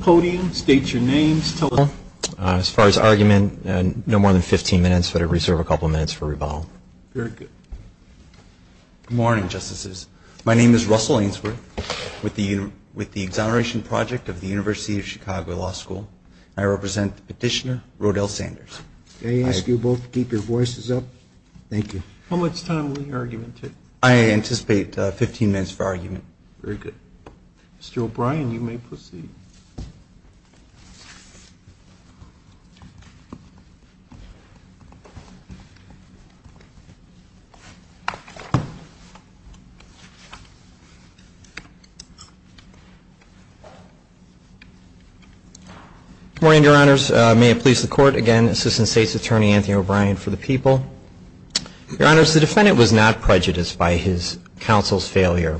podium. State your names. As far as argument, no more than 15 minutes, but I reserve a couple minutes for rebuttal. Good morning, Justices. My name is Russell Ainsworth with the Exoneration Project of the University of Chicago Law School. I represent Petitioner Rodel Sanders. I ask you both to keep your voices up. Thank you. How much time will the argument take? I anticipate 15 minutes for argument. Very good. Mr. O'Brien, you may proceed. Good morning, Your Honors. May it please the Court. Again, Assistant State's Attorney Anthony O'Brien for the Court. I would like to begin by acknowledging the Court's failure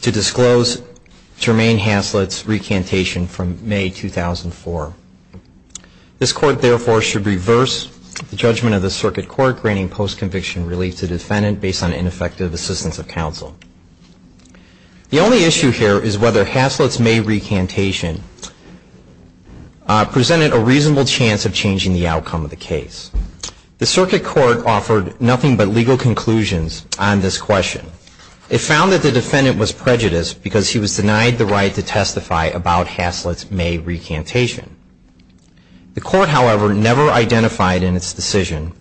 to disclose Jermaine Hasslett's recantation from May 2004. This Court, therefore, should reverse the judgment of the Circuit Court granting post-conviction relief to the defendant based on ineffective assistance of counsel. The only issue here is whether Hasslett's May recantation presented a reasonable chance of changing the outcome of the case. The Circuit Court offered nothing but legal conclusions on this question. It found that the defendant was prejudiced because he was denied the right to testify about Hasslett's May recantation. The Court, however, never identified in its decision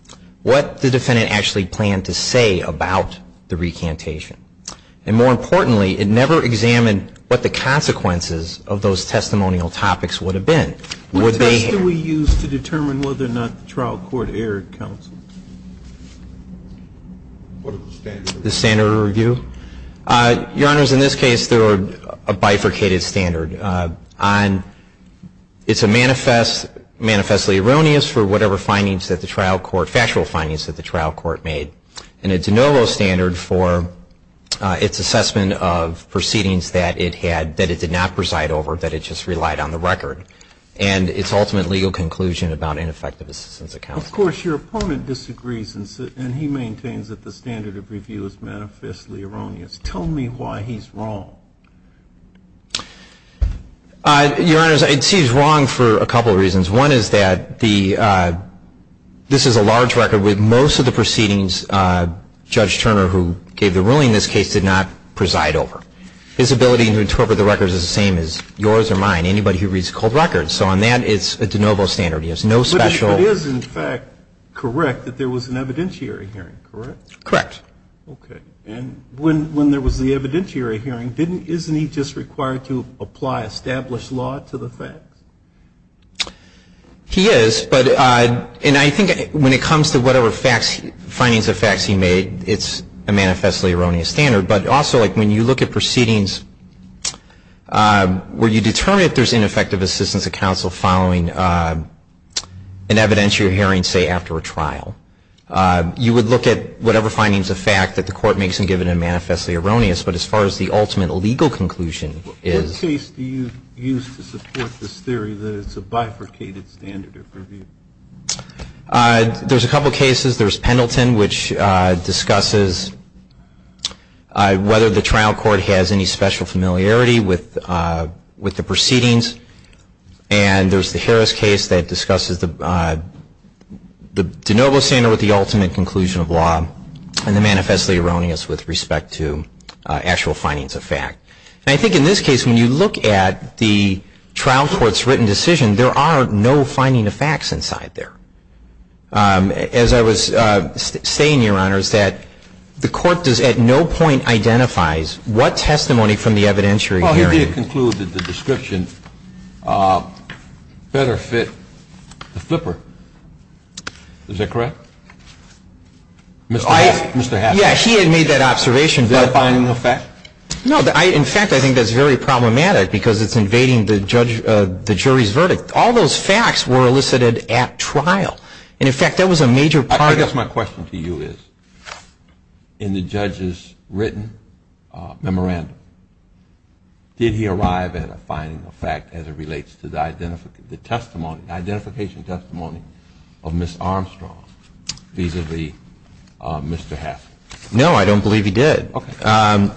what the defendant actually planned to say about the recantation. And more importantly, it never examined what the consequences of those testimonial topics would have been. What test do we use to determine whether or not the trial court erred, counsel? The standard of review? Your Honors, in this case, there were a bifurcated standard. It's manifestly erroneous for whatever factual findings that the trial court made. And it's a no-go standard for its assessment of proceedings that it had that it did not preside over, that it just relied on the record. And its ultimate legal conclusion about ineffective assistance of counsel. Of course, your opponent disagrees, and he maintains that the standard of review is manifestly erroneous. Tell me why he's wrong. Your Honors, it seems wrong for a couple of reasons. One is that this is a large record. With most of the proceedings, Judge Turner, who gave the ruling in this case, did not preside over. His ability to interpret the record is the same as yours or mine, anybody who reads cold records. So on that, it's a de novo standard. He has no special ---- But it is, in fact, correct that there was an evidentiary hearing, correct? Correct. Okay. And when there was the evidentiary hearing, didn't he, isn't he just required to apply established law to the facts? He is, but, and I think when it comes to whatever facts, findings of facts he made, it's a manifestly erroneous standard. But also, like, when you look at proceedings where you determine if there's ineffective assistance of counsel following an evidentiary hearing, say, after a trial, you would look at whatever findings of fact that the Court makes and give it a manifestly erroneous. But as far as the ultimate legal conclusion is ---- What case do you use to support this theory that it's a bifurcated standard of review? There's a couple of cases. There's Pendleton, which discusses whether the trial court has any special familiarity with the proceedings. And there's the Harris case that discusses the de novo standard with the ultimate conclusion of law and the manifestly erroneous with respect to actual findings of fact. And I think in this case, when you look at the trial court's written decision, there are no finding of facts inside there. As I was saying, Your Honor, is that the Court does at no point identifies what testimony from the evidentiary hearing Well, he did conclude that the description better fit the flipper. Is that correct? Mr. Haffner? Yeah, he had made that observation. Verifying of fact? No. In fact, I think that's very problematic because it's invading the jury's subject. All those facts were elicited at trial. And in fact, that was a major part I guess my question to you is, in the judge's written memorandum, did he arrive at a finding of fact as it relates to the identification testimony of Ms. Armstrong vis-à-vis Mr. Haffner? No, I don't believe he did. And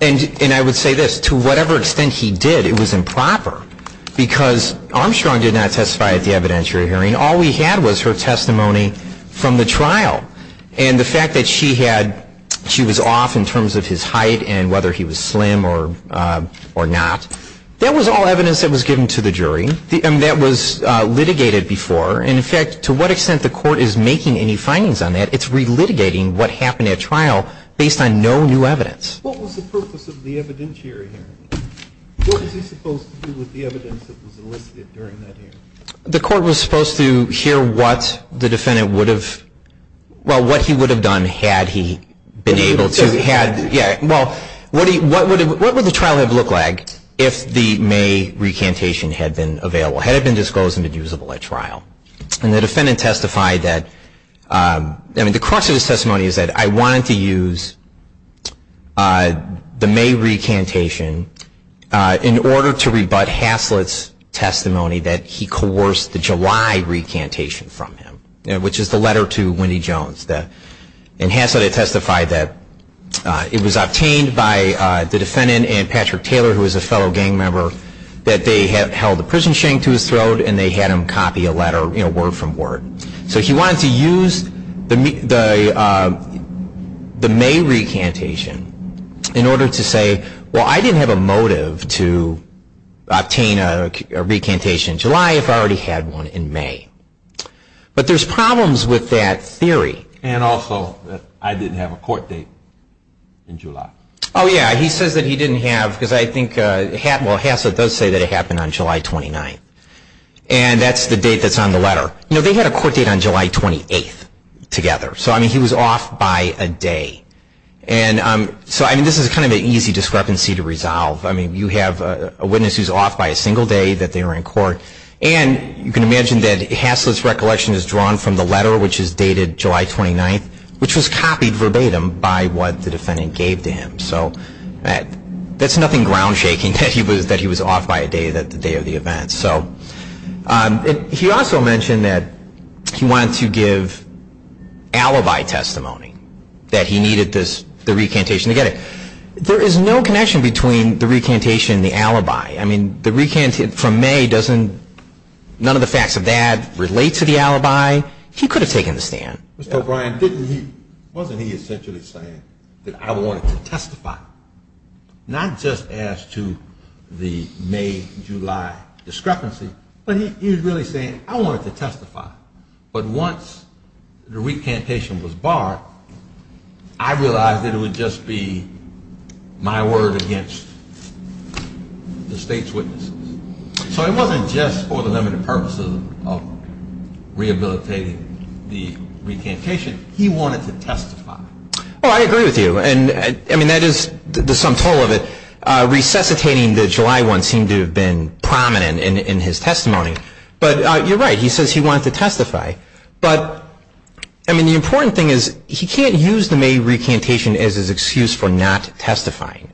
I would say this, to whatever extent he did, it was All we had was her testimony from the trial. And the fact that she had, she was off in terms of his height and whether he was slim or not, that was all evidence that was given to the jury. And that was litigated before. And in fact, to what extent the Court is making any findings on that, it's relitigating what happened at trial based on no new evidence. What was the purpose of the evidentiary hearing? What was he supposed to do with the evidence that was elicited during that hearing? The Court was supposed to hear what the defendant would have, well, what he would have done had he been able to, yeah, well, what would the trial have looked like if the May recantation had been available, had it been disclosed and been usable at trial? And the defendant testified that, I mean, the crux of his testimony is that I wanted to use the May recantation in order to rebut Hasslet's testimony that he coerced the July recantation from him, which is the letter to Wendy Jones. And Hasslet had testified that it was obtained by the defendant and Patrick Taylor, who was a fellow gang member, that they had held a prison shank to his throat and they had him copy a letter word from word. So he wanted to use the May recantation in order to say, well, I didn't have a motive to obtain a recantation in July if I already had one in May. But there's problems with that theory. And also that I didn't have a court date in July. Oh, yeah, he says that he didn't have, because I think, well, Hasslet does say that it happened on July 29th. And that's the date that's on the letter. You know, they had a court date on July 28th together. So, I mean, he was off by a day. And so, I mean, this is kind of an easy discrepancy to resolve. I mean, you have a witness who's off by a single day that they were in court. And you can imagine that Hasslet's recollection is drawn from the letter, which is dated July 29th, which was copied verbatim by what the defendant gave to him. So that's nothing ground-shaking that he was off by a day, the day of the event. So he also mentioned that he wanted to give alibi testimony, that he needed the recantation to get it. There is no connection between the recantation and the alibi. I mean, the recantation from May doesn't, none of the facts of that relate to the alibi. He could have taken the stand. Mr. O'Brien, wasn't he essentially saying that I wanted to testify, not just as to the May-July discrepancy, but he was really saying I wanted to testify. But once the recantation was barred, I realized that it would just be my word against the state's witnesses. So it wasn't just for the limited purposes of rehabilitating the recantation. He wanted to testify. Well, I agree with you. And, I mean, that is the sum total of it. Resuscitating the July one seemed to have been prominent in his testimony. But you're right. He says he wanted to testify. But, I mean, the important thing is he can't use the May recantation as his excuse for not testifying.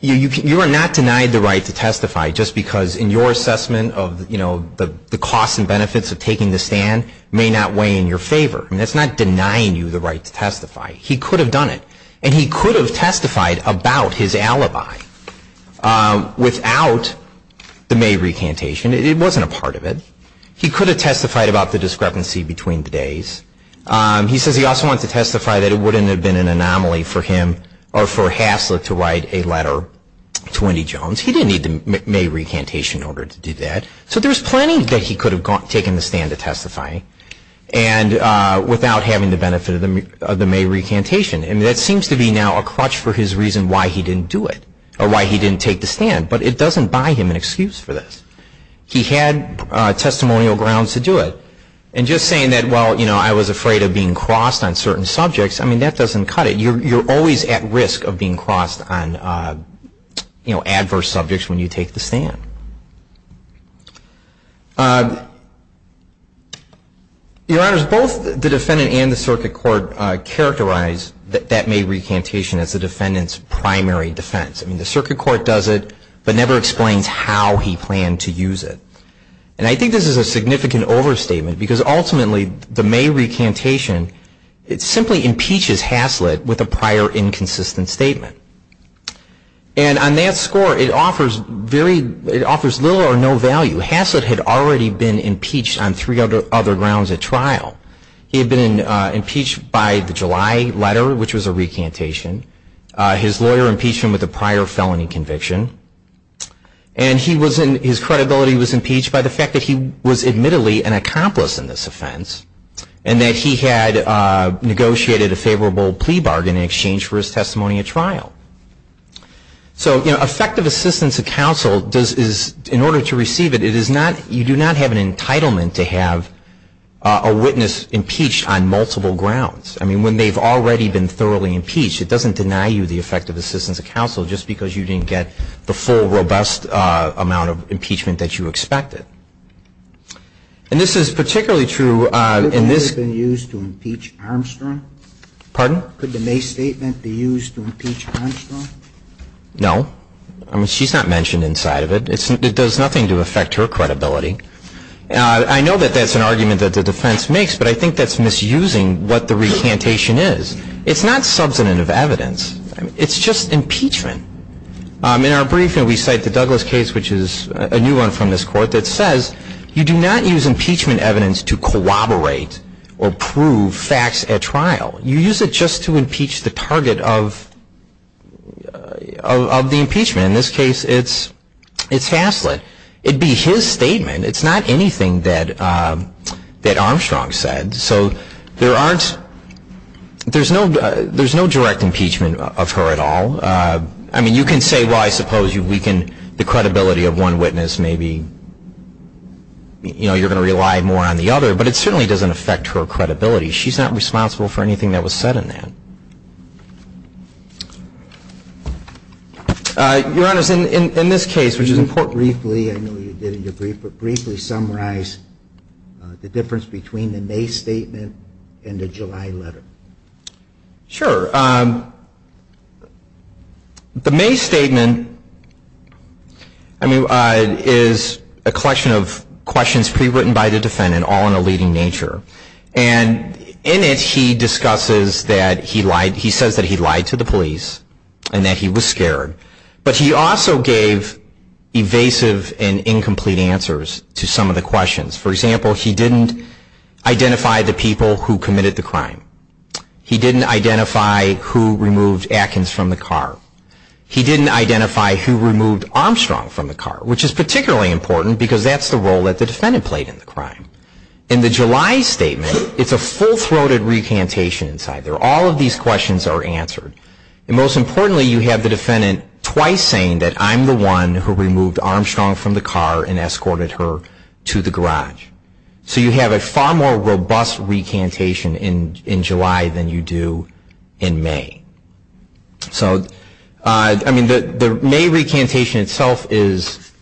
You are not denied the right to testify just because in your assessment of, you know, the costs and benefits of taking the stand may not weigh in your favor. I mean, that's not denying you the right to testify. He could have done it. And he could have testified about his alibi without the May recantation. It wasn't a part of it. He could have testified about the discrepancy between the days. He says he also wanted to testify that it wouldn't have been an anomaly for him or for Haslick to write a letter to Wendy Jones. He didn't need the May recantation in order to do that. So there's plenty that he could have taken the stand to testify without having the benefit of the May recantation. And that seems to be now a crutch for his reason why he didn't do it or why he didn't take the stand. But it doesn't buy him an excuse for this. He had testimonial grounds to do it. And just saying that, well, you know, I was afraid of being crossed on certain subjects, I mean, that doesn't cut it. You're always at risk of being crossed on, you know, adverse subjects when you take the stand. Your Honors, both the defendant and the circuit court characterize that May recantation as the defendant's primary defense. I mean, the circuit court does it but never explains how he planned to use it. And I think this is a significant overstatement because ultimately the May recantation, it simply impeaches Haslick with a prior inconsistent statement. And on that score, it offers little or no value. Haslick had already been impeached on three other grounds at trial. He had been impeached by the July letter, which was a recantation. His lawyer impeached him with a prior felony conviction. And his credibility was impeached by the fact that he was admittedly an accomplice in this offense and that he had negotiated a favorable plea bargain in exchange for his testimony at trial. So, you know, effective assistance of counsel, in order to receive it, you do not have an entitlement to have a witness impeached on multiple grounds. I mean, when they've already been thoroughly impeached, it doesn't deny you the effective assistance of counsel just because you didn't get the full, robust amount of impeachment that you expected. And this is particularly true in this. Could the May have been used to impeach Armstrong? Pardon? Could the May statement be used to impeach Armstrong? No. I mean, she's not mentioned inside of it. It does nothing to affect her credibility. I know that that's an argument that the defense makes, but I think that's misusing what the recantation is. It's not substantive evidence. It's just impeachment. In our briefing, we cite the Douglas case, which is a new one from this court, that says you do not use impeachment evidence to corroborate or prove facts at trial. You use it just to impeach the target of the impeachment. In this case, it's Haslett. It'd be his statement. It's not anything that Armstrong said. So there's no direct impeachment of her at all. I mean, you can say, well, I suppose you've weakened the credibility of one witness. Maybe you're going to rely more on the other. But it certainly doesn't affect her credibility. She's not responsible for anything that was said in that. Your Honors, in this case, which is important briefly, I know you did in your brief, but briefly summarize the difference between the May statement and the July letter. Sure. The May statement is a collection of questions pre-written by the defendant, all in a leading nature. And in it, he discusses that he lied. He says that he lied to the police and that he was scared. But he also gave evasive and incomplete answers to some of the questions. For example, he didn't identify the people who committed the crime. He didn't identify who removed Atkins from the car. He didn't identify who removed Armstrong from the car, which is particularly important because that's the role that the defendant played in the crime. In the July statement, it's a full-throated recantation inside there. All of these questions are answered. And most importantly, you have the defendant twice saying that, I'm the one who removed Armstrong from the car and escorted her to the garage. So you have a far more robust recantation in July than you do in May. So, I mean, the May recantation itself is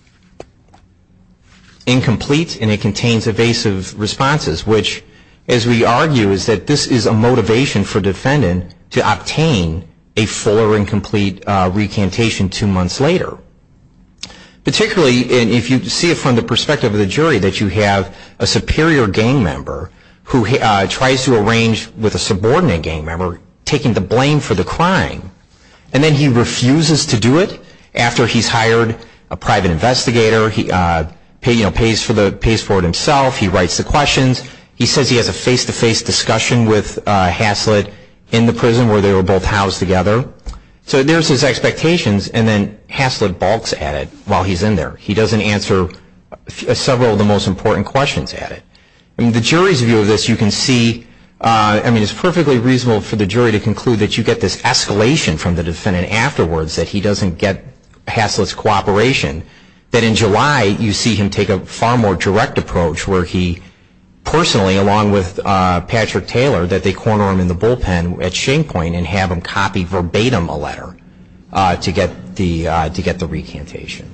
incomplete, and it contains evasive responses, which, as we argue, is that this is a motivation for the defendant to obtain a full or incomplete recantation two months later. Particularly, if you see it from the perspective of the jury, that you have a superior gang member who tries to arrange with a subordinate gang member taking the blame for the crime. And then he refuses to do it after he's hired a private investigator. He pays for it himself. He writes the questions. He says he has a face-to-face discussion with Haslett in the prison where they were both housed together. So there's his expectations, and then Haslett balks at it while he's in there. He doesn't answer several of the most important questions at it. In the jury's view of this, you can see, I mean, it's perfectly reasonable for the jury to conclude that you get this escalation from the defendant afterwards, that he doesn't get Haslett's cooperation. That in July, you see him take a far more direct approach where he personally, along with Patrick Taylor, that they corner him in the bullpen at shame point and have him copy verbatim a letter to get the recantation.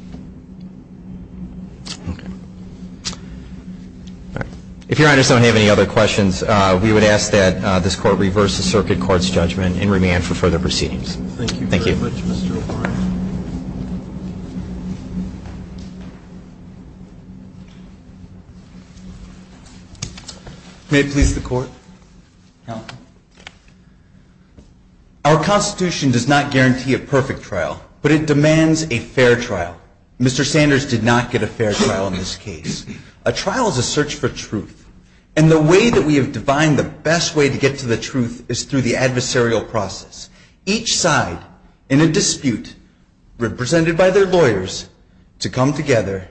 If Your Honors don't have any other questions, we would ask that this Court reverse the Circuit Court's judgment and remand for further proceedings. Thank you very much, Mr. O'Brien. May it please the Court. Our Constitution does not guarantee a perfect trial, but it demands a fair trial. Mr. Sanders did not get a fair trial in this case. A trial is a search for truth. And the way that we have defined the best way to get to the truth is through the adversarial process. Each side in a dispute represented by their lawyers to come together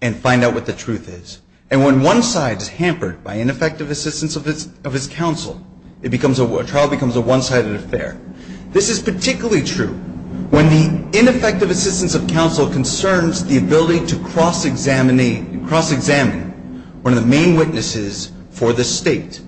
and find out what the truth is. And when one side is hampered by ineffective assistance of his counsel, a trial becomes a one-sided affair. This is particularly true when the ineffective assistance of counsel concerns the ability to cross-examine one of the main witnesses for the State.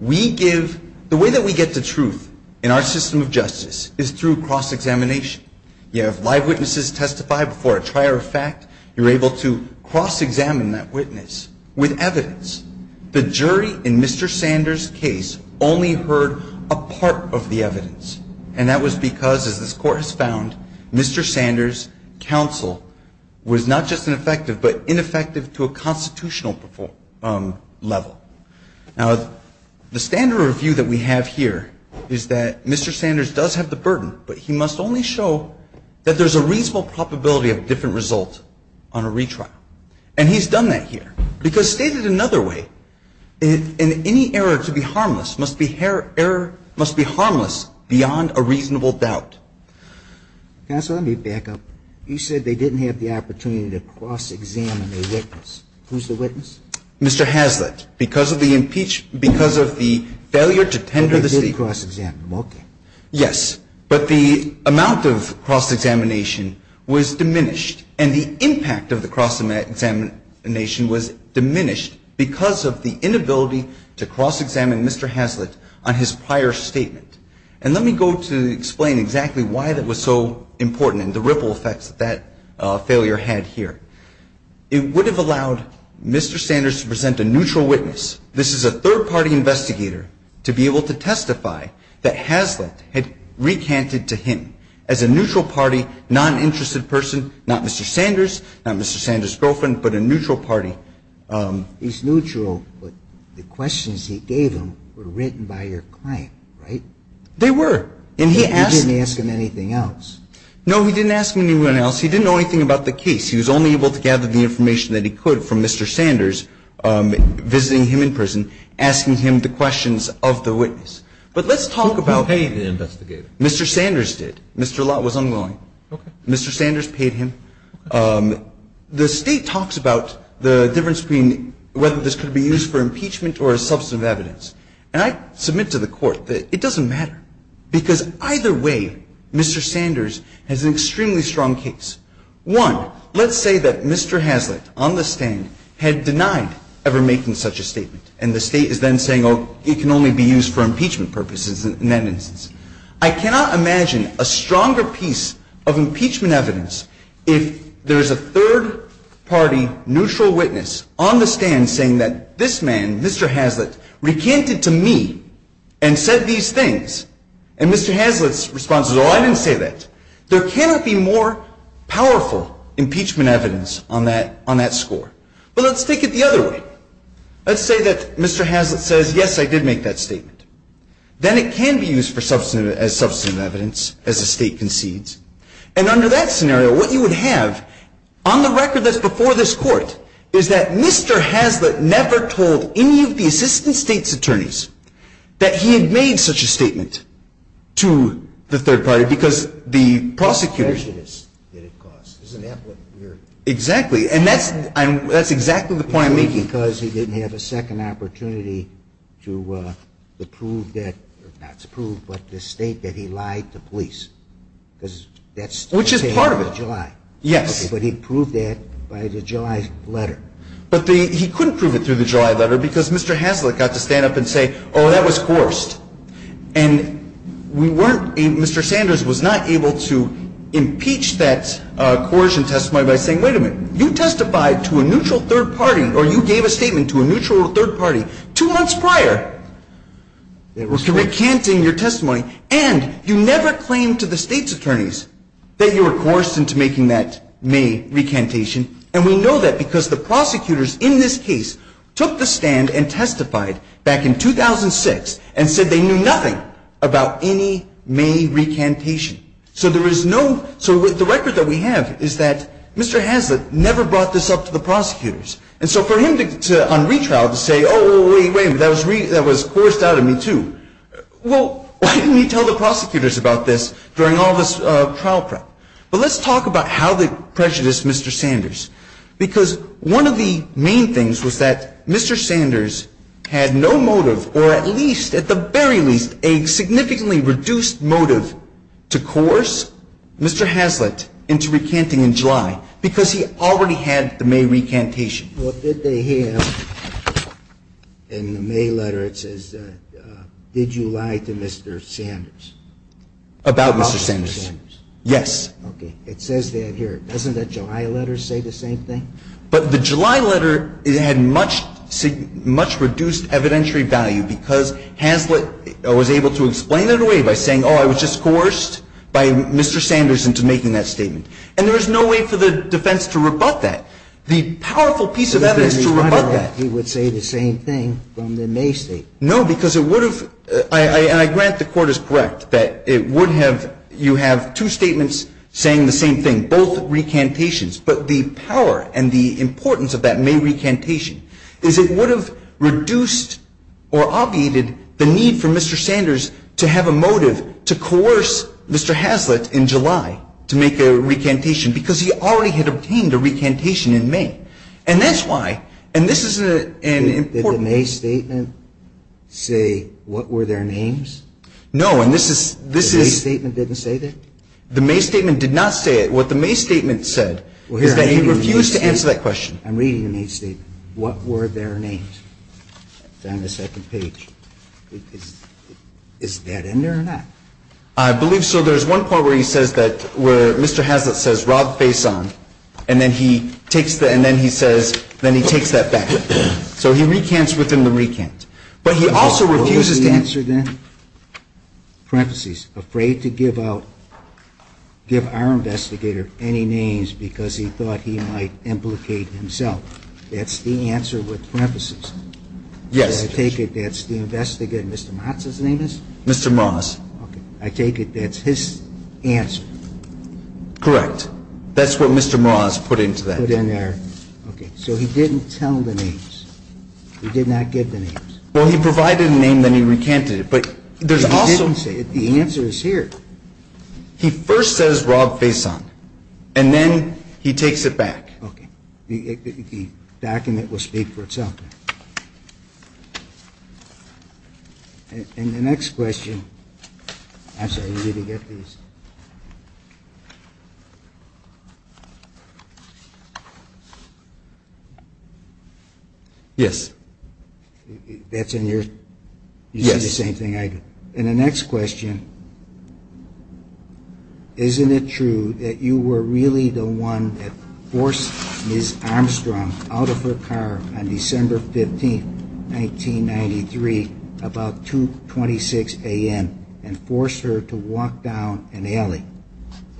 The way that we get to truth in our system of justice is through cross-examination. You have live witnesses testify before a trier of fact. You're able to cross-examine that witness with evidence. The jury in Mr. Sanders' case only heard a part of the evidence. And that was because, as this Court has found, Mr. Sanders' counsel was not just ineffective, but ineffective to a constitutional level. Now, the standard review that we have here is that Mr. Sanders does have the burden, but he must only show that there's a reasonable probability of a different result on a retrial. And he's done that here. Because stated another way, any error to be harmless must be harmless beyond a reasonable doubt. Ginsburg. Counsel, let me back up. You said they didn't have the opportunity to cross-examine a witness. Who's the witness? Mr. Hazlitt. Because of the impeach – because of the failure to tender the State cross-examination. Yes. But the amount of cross-examination was diminished. And the impact of the cross-examination was diminished because of the inability to cross-examine Mr. Hazlitt on his prior statement. And let me go to explain exactly why that was so important and the ripple effects that that failure had here. It would have allowed Mr. Sanders to present a neutral witness. This is a third-party investigator to be able to testify that Hazlitt had recanted to him as a neutral party, noninterested person, not Mr. Sanders, not Mr. Sanders' girlfriend, but a neutral party. He's neutral, but the questions he gave him were written by your client, right? They were. And he asked – He didn't ask him anything else. No, he didn't ask anyone else. He didn't know anything about the case. He was only able to gather the information that he could from Mr. Sanders visiting him in prison, asking him the questions of the witness. But let's talk about – Who paid the investigator? Mr. Sanders did. Mr. Lott was unwilling. Okay. Mr. Sanders paid him. Okay. The State talks about the difference between whether this could be used for impeachment or as substantive evidence. And I submit to the Court that it doesn't matter, because either way, Mr. Sanders has an extremely strong case. One, let's say that Mr. Hazlitt on the stand had denied ever making such a statement, and the State is then saying, oh, it can only be used for impeachment purposes in that instance. I cannot imagine a stronger piece of impeachment evidence if there is a third-party neutral witness on the stand saying that this man, Mr. Hazlitt, recanted to me and said these things. And Mr. Hazlitt's response is, oh, I didn't say that. There cannot be more powerful impeachment evidence on that score. But let's take it the other way. Let's say that Mr. Hazlitt says, yes, I did make that statement. Then it can be used as substantive evidence as the State concedes. And under that scenario, what you would have on the record that's before this Court is that Mr. Hazlitt never told any of the Assistant States Attorneys that he had made such a statement to the third party, because the prosecutors – What prejudice did it cause? Isn't that what we're – Exactly. And that's – that's exactly the point I'm making. Because he didn't have a second opportunity to prove that – or not to prove, but to state that he lied to police. Because that's – Which is part of it. Okay, but he proved that by the July letter. But the – he couldn't prove it through the July letter because Mr. Hazlitt got to stand up and say, oh, that was coerced. And we weren't – Mr. Sanders was not able to impeach that coercion testimony by saying, wait a minute, you testified to a neutral third party, or you gave a statement to a neutral third party two months prior. You were recanting your testimony, and you never claimed to the States Attorneys that you were coerced into making that May recantation. And we know that because the prosecutors in this case took the stand and testified back in 2006 and said they knew nothing about any May recantation. So there is no – so the record that we have is that Mr. Hazlitt never brought this up to the prosecutors. And so for him to – on retrial, to say, oh, wait, wait, that was coerced out of me too. Well, why didn't he tell the prosecutors about this during all this trial prep? But let's talk about how they prejudiced Mr. Sanders. Because one of the main things was that Mr. Sanders had no motive or at least, at the very least, a significantly reduced motive to coerce Mr. Hazlitt into recanting in July because he already had the May recantation. Well, did they have – in the May letter it says, did you lie to Mr. Sanders? About Mr. Sanders. About Mr. Sanders. Yes. Okay. It says that here. Doesn't the July letter say the same thing? But the July letter had much reduced evidentiary value because Hazlitt was able to explain it away by saying, oh, I was just coerced by Mr. Sanders into making that statement. And there is no way for the defense to rebut that. The powerful piece of evidence to rebut that – Because the May letter, he would say the same thing from the May statement. No, because it would have – and I grant the Court is correct that it would have – you have two statements saying the same thing, both recantations. But the power and the importance of that May recantation is it would have reduced or obviated the need for Mr. Sanders to have a motive to coerce Mr. Hazlitt in July to make a recantation because he already had obtained a recantation in May. And that's why – and this is an important – Did the May statement say what were their names? No. And this is – this is – The May statement didn't say that? The May statement did not say it. What the May statement said is that he refused to answer that question. I'm reading the May statement. What were their names? It's on the second page. Is that in there or not? I believe so. There's one part where he says that – where Mr. Hazlitt says, Rob, face on. And then he takes the – and then he says – then he takes that back. So he recants within the recant. But he also refuses to answer the – Do you know the answer then? Parentheses. Afraid to give out – give our investigator any names because he thought he might implicate himself. That's the answer with parentheses. Yes. I take it that's the investigator. Mr. Motz's name is? Mr. Motz. Okay. I take it that's his answer. Correct. That's what Mr. Mraz put into that. Put in there. Okay. So he didn't tell the names. He did not give the names. Well, he provided a name, then he recanted it. But there's also – He didn't say it. The answer is here. He first says, Rob, face on. And then he takes it back. Okay. The document will speak for itself. And the next question – I'm sorry, you need to get these. Yes. That's in your – Yes. You did the same thing I did. And the next question, isn't it true that you were really the one that forced Ms. Armstrong out of her car on December 15, 1993, about 2.26 a.m., and forced her to walk down an alley?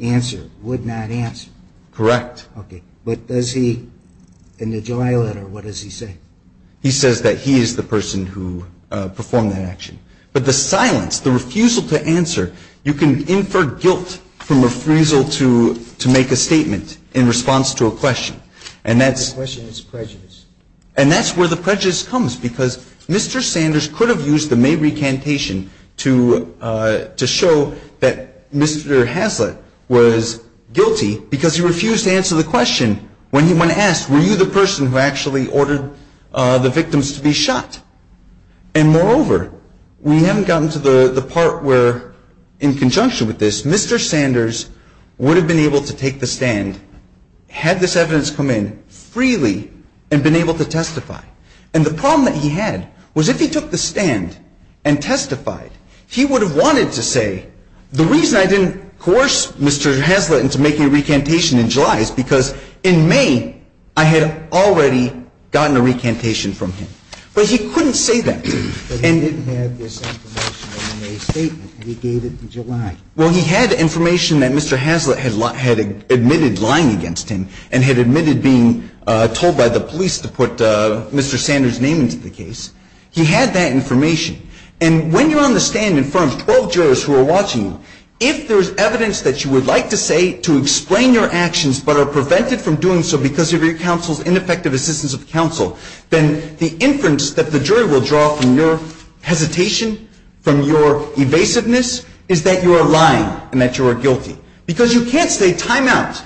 Answer. Would not answer. Correct. Okay. But does he – in the July letter, what does he say? He says that he is the person who performed that action. But the silence, the refusal to answer, you can infer guilt from refusal to make a statement in response to a question. And that's – The question is prejudice. And that's where the prejudice comes, because Mr. Sanders could have used the May recantation to show that Mr. Haslett was guilty because he refused to answer the question when asked, were you the person who actually ordered the victims to be shot? And moreover, we haven't gotten to the part where, in conjunction with this, Mr. Sanders would have been able to take the stand had this evidence come in freely and been able to testify. And the problem that he had was if he took the stand and testified, he would have wanted to say, the reason I didn't coerce Mr. Haslett into making a recantation in July is because in May, I had already gotten a recantation from him. But he couldn't say that. But he didn't have this information in the May statement, and he gave it in July. Well, he had information that Mr. Haslett had admitted lying against him and had admitted being told by the police to put Mr. Sanders' name into the case. He had that information. And when you're on the stand in front of 12 jurors who are watching you, if there's evidence that you would like to say to explain your actions but are prevented from doing so because of your counsel's ineffective assistance of counsel, then the inference that the jury will draw from your hesitation, from your evasiveness, is that you are lying and that you are guilty. Because you can't say timeout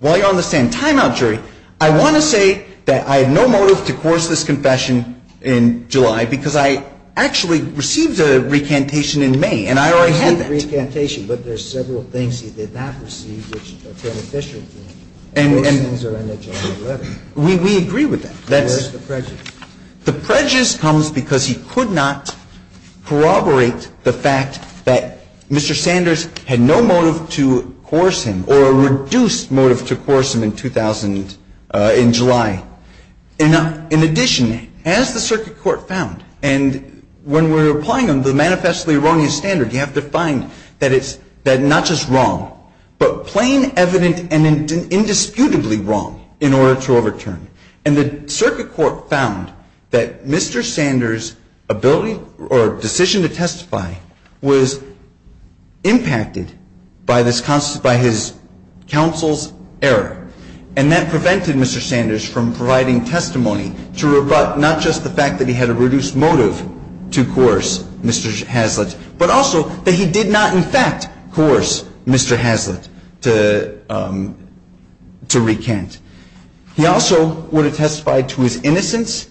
while you're on the stand. Timeout, jury. I want to say that I have no motive to coerce this confession in July because I actually received a recantation in May, and I already had that. I received a recantation, but there's several things he did not receive which are beneficial to him. And those things are in the July letter. We agree with that. Where's the prejudice? The prejudice comes because he could not corroborate the fact that Mr. Sanders had no motive to coerce him or a reduced motive to coerce him in 2000, in July. In addition, as the circuit court found, and when we're applying the manifestly erroneous standard, you have to find that it's not just wrong, but plain evident and indisputably wrong in order to overturn. And the circuit court found that Mr. Sanders' ability or decision to testify was impacted by his counsel's error, and that prevented Mr. Sanders from providing testimony to rebut not just the fact that he had a reduced motive to coerce Mr. Hazlitt, but also that he did not in fact coerce Mr. Hazlitt to recant. He also would have testified to his innocence,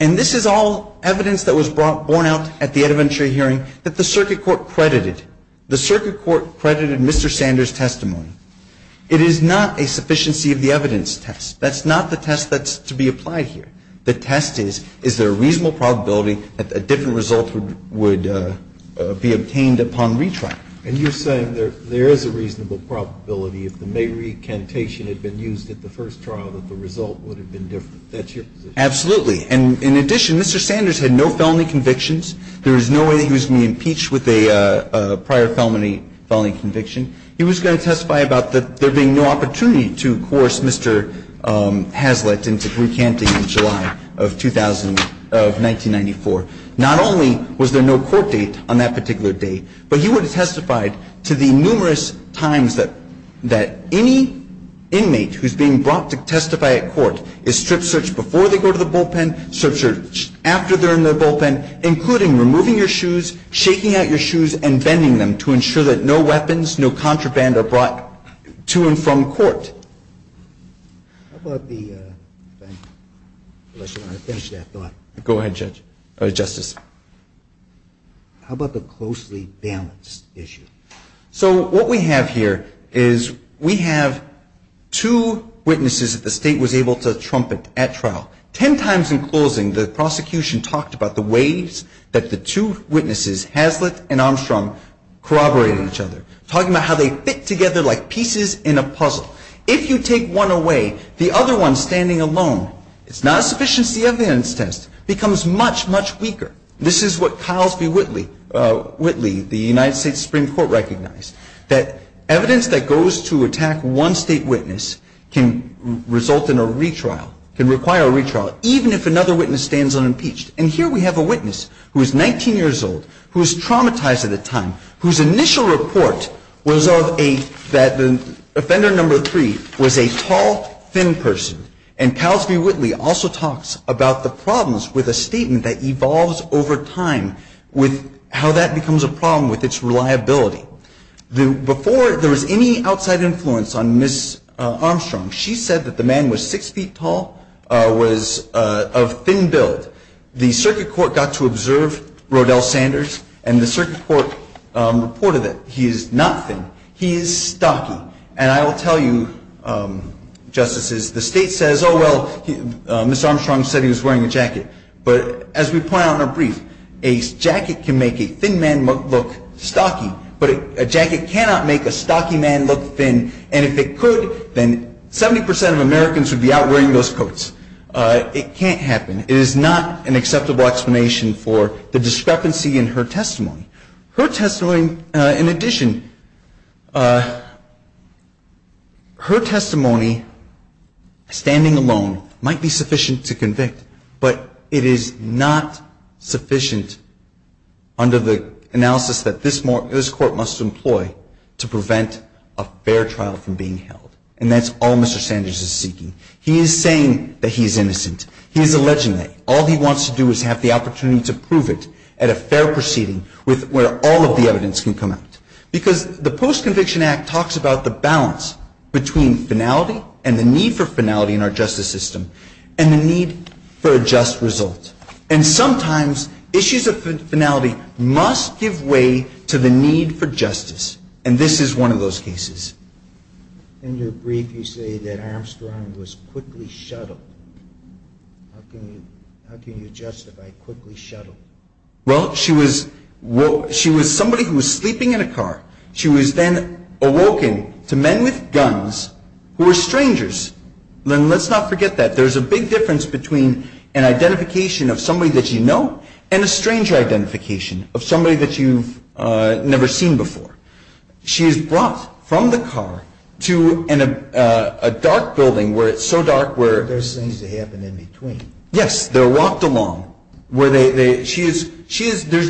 and this is all evidence that was borne out at the EdVenture hearing that the circuit court credited. The circuit court credited Mr. Sanders' testimony. It is not a sufficiency of the evidence test. That's not the test that's to be applied here. The test is, is there a reasonable probability that a different result would be obtained upon retrial? And you're saying there is a reasonable probability if the may recantation had been used at the first trial that the result would have been different. That's your position? Absolutely. And in addition, Mr. Sanders had no felony convictions. There was no way that he was going to be impeached with a prior felony conviction. He was going to testify about there being no opportunity to coerce Mr. Hazlitt into recanting in July of 1994. Not only was there no court date on that particular day, but he would have testified to the numerous times that, that any inmate who's being brought to testify at court is strip searched before they go to the bullpen, strip searched after they're in the bullpen, including removing your shoes, shaking out your shoes, and bending them to ensure that no weapons, no contraband are brought to and from court. How about the, unless you want to finish that thought. Go ahead, Judge, or Justice. How about the closely balanced issue? So what we have here is we have two witnesses that the state was able to trumpet at trial. Ten times in closing, the prosecution talked about the ways that the two witnesses, Hazlitt and Armstrong, corroborated each other, talking about how they fit together like pieces in a puzzle. If you take one away, the other one standing alone, it's not a sufficiency evidence test, becomes much, much weaker. This is what Kyles v. Whitley, the United States Supreme Court recognized, that evidence that goes to attack one state witness can result in a retrial, can require a retrial, even if another witness stands unimpeached. And here we have a witness who is 19 years old, who is traumatized at the time, whose initial report was of a, that the offender number three was a tall, thin person. And Kyles v. Whitley also talks about the problems with a statement that evolves over time with how that becomes a problem with its reliability. Before there was any outside influence on Ms. Armstrong, she said that the man was six feet tall, was of thin build. The circuit court got to observe Rodell Sanders, and the circuit court reported that he is not thin. He is stocky. And I will tell you, Justices, the state says, oh, well, Ms. Armstrong said he was wearing a jacket. But as we point out in our brief, a jacket can make a thin man look stocky, but a jacket cannot make a stocky man look thin, and if it could, then 70 percent of Americans would be out wearing those coats. It can't happen. It is not an acceptable explanation for the discrepancy in her testimony. Her testimony, in addition, her testimony, standing alone, might be sufficient to convict, but it is not sufficient under the analysis that this Court must employ to prevent a fair trial from being held. And that's all Mr. Sanders is seeking. He is saying that he is innocent. He is alleging that. All he wants to do is have the opportunity to prove it at a fair proceeding where all of the evidence can come out. Because the Post-Conviction Act talks about the balance between finality and the need for finality in our justice system and the need for a just result. And sometimes issues of finality must give way to the need for justice, and this is one of those cases. In your brief, you say that Armstrong was quickly shuttled. How can you justify quickly shuttled? Well, she was somebody who was sleeping in a car. She was then awoken to men with guns who were strangers. And let's not forget that. There's a big difference between an identification of somebody that you know and a stranger identification of somebody that you've never seen before. She is brought from the car to a dark building where it's so dark where There's things that happen in between. Yes, they're walked along. There's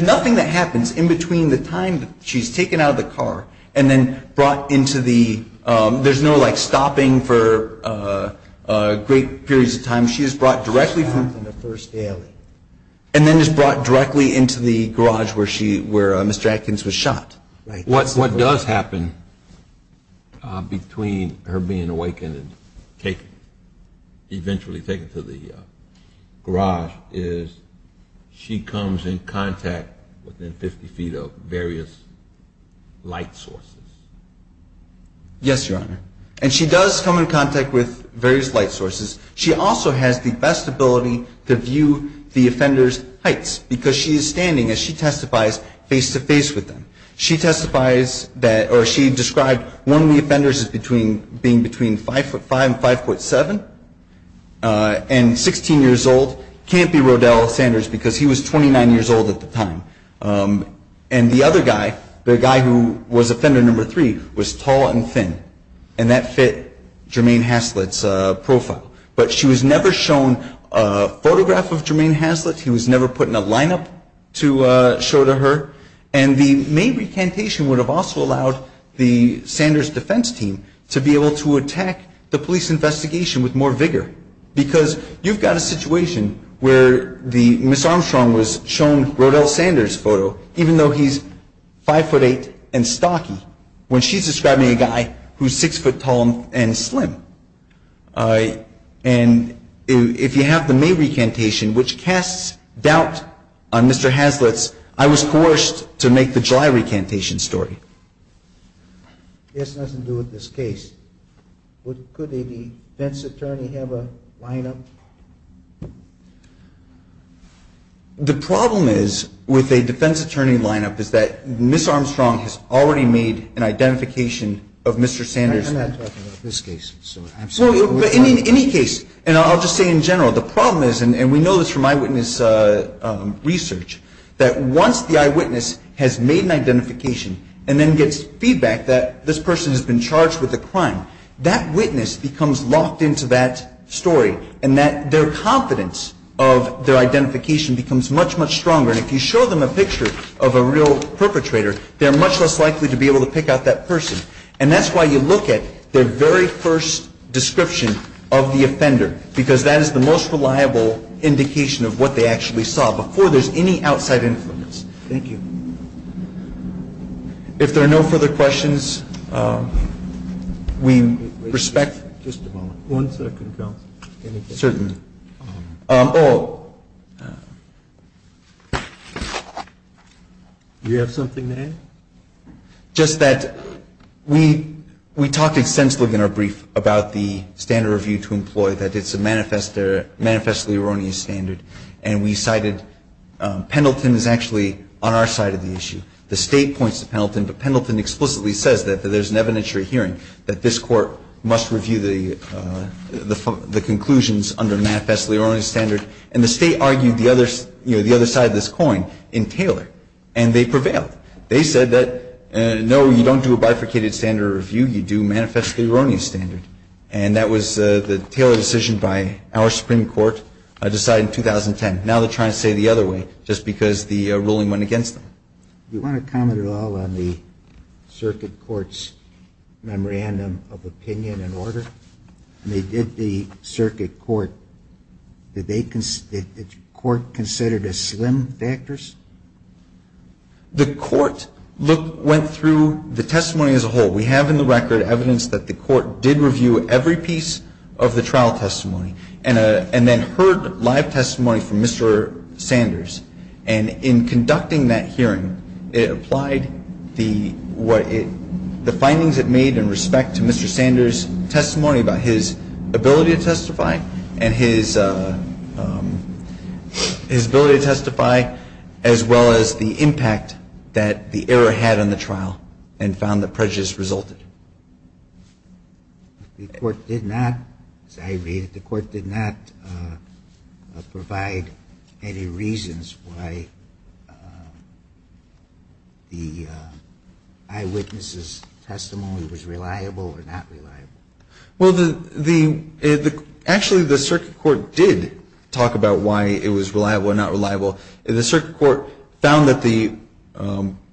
nothing that happens in between the time that she's taken out of the car and then brought into the, there's no like stopping for great periods of time. She is brought directly from and then is brought directly into the garage where Mr. Atkins was shot. What does happen between her being awakened and taken, eventually taken to the garage is she comes in contact within 50 feet of various light sources. Yes, Your Honor. And she does come in contact with various light sources. She also has the best ability to view the offender's heights because she is standing as she testifies face-to-face with them. She testifies that, or she described one of the offenders as being between 5'5 and 5'7 and 16 years old. Can't be Rodel Sanders because he was 29 years old at the time. And the other guy, the guy who was offender number three, was tall and thin. And that fit Jermaine Haslett's profile. But she was never shown a photograph of Jermaine Haslett. He was never put in a lineup to show to her. And the May recantation would have also allowed the Sanders defense team to be able to attack the police investigation with more vigor. Because you've got a situation where Ms. Armstrong was shown Rodel Sanders' photo, even though he's 5'8 and stocky, when she's describing a guy who's 6' tall and slim. And if you have the May recantation, which casts doubt on Mr. Haslett's, I was coerced to make the July recantation story. This has nothing to do with this case. Could a defense attorney have a lineup? The problem is with a defense attorney lineup is that Ms. Armstrong has already made an identification of Mr. Sanders. I'm not talking about this case. In any case, and I'll just say in general, the problem is, and we know this from eyewitness research, that once the eyewitness has made an identification and then gets feedback that this person has been charged with a crime, that witness becomes locked into that story and that their confidence of their identification becomes much, much stronger. And if you show them a picture of a real perpetrator, they're much less likely to be able to pick out that person. And that's why you look at their very first description of the offender, because that is the most reliable indication of what they actually saw before there's any outside influence. Thank you. If there are no further questions, we respect. Just a moment. One second, counsel. Certainly. Do you have something to add? Just that we talked extensively in our brief about the standard review to employ, that it's a manifestly erroneous standard. And we cited Pendleton is actually on our side of the issue. The State points to Pendleton, but Pendleton explicitly says that there's an evidentiary hearing that this Court must review the conclusions under manifestly erroneous standard. And the State argued the other side of this coin in Taylor, and they prevailed. They said that, no, you don't do a bifurcated standard review. You do manifestly erroneous standard. And that was the Taylor decision by our Supreme Court decided in 2010. Now they're trying to say it the other way just because the ruling went against them. Do you want to comment at all on the circuit court's memorandum of opinion and order? I mean, did the circuit court, did they, did the court consider the slim factors? The court went through the testimony as a whole. We have in the record evidence that the court did review every piece of the trial testimony and then heard live testimony from Mr. Sanders. And in conducting that hearing, it applied the findings it made in respect to Mr. Sanders' testimony about his ability to testify and his ability to testify, as well as the impact that the error had on the trial and found that prejudice resulted. The court did not, as I read it, the court did not provide any reasons why the eyewitnesses' testimony was reliable or not reliable. Well, the, the, actually, the circuit court did talk about why it was reliable or not reliable. The circuit court found that the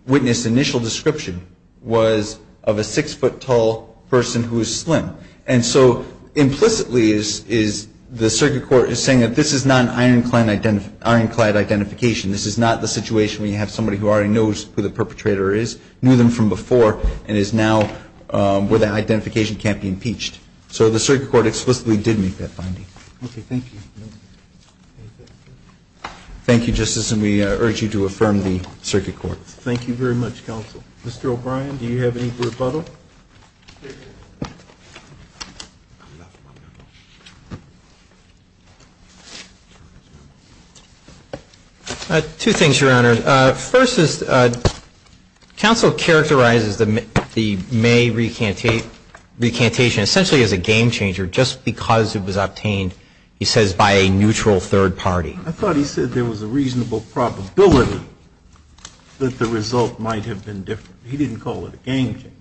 witness' initial description was of a six-foot tall person who is slim. And so implicitly is, is the circuit court is saying that this is not an ironclad identification. This is not the situation where you have somebody who already knows who the perpetrator is, knew them from before, and is now where the identification can't be impeached. So the circuit court explicitly did make that finding. Okay. Thank you. Thank you, Justice, and we urge you to affirm the circuit court. Thank you very much, Counsel. Mr. O'Brien, do you have any rebuttal? Two things, Your Honor. First is Counsel characterizes the May recantation essentially as a game changer just because it was obtained. He says by a neutral third party. I thought he said there was a reasonable probability that the result might have been different. He didn't call it a game changer.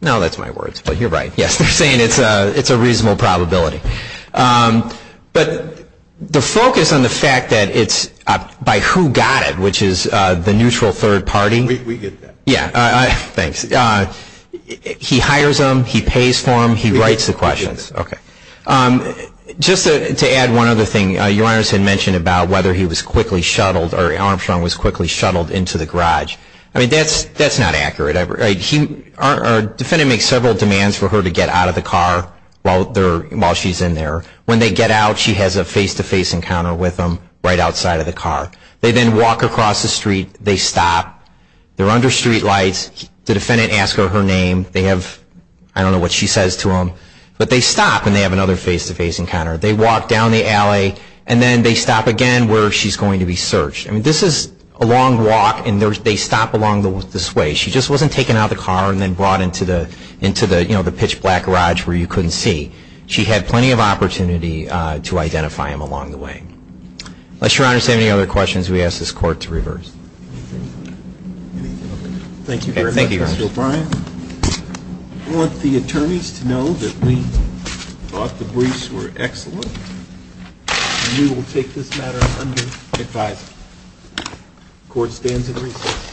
No, that's my words, but you're right. Yes, they're saying it's a, it's a reasonable probability. But the focus on the fact that it's by who got it, which is the neutral third party. We, we get that. Yeah. Thanks. He hires them. He pays for them. He writes the questions. Okay. Just to add one other thing. Your Honor has mentioned about whether he was quickly shuttled or Armstrong was quickly shuttled into the garage. I mean, that's, that's not accurate. Our defendant makes several demands for her to get out of the car while they're, while she's in there. When they get out, she has a face-to-face encounter with them right outside of the car. They then walk across the street. They stop. They're under street lights. The defendant asks her her name. They have, I don't know what she says to them. But they stop and they have another face-to-face encounter. They walk down the alley and then they stop again where she's going to be searched. I mean, this is a long walk and they stop along this way. She just wasn't taken out of the car and then brought into the, into the, you know, the pitch black garage where you couldn't see. She had plenty of opportunity to identify him along the way. Unless Your Honor has any other questions, we ask this Court to reverse. Anything? Anything? Okay. Thank you very much. Thank you, Your Honor. Thank you, Mr. O'Brien. I want the attorneys to know that we thought the briefs were excellent. We will take this matter under advisory. The Court stands at recess.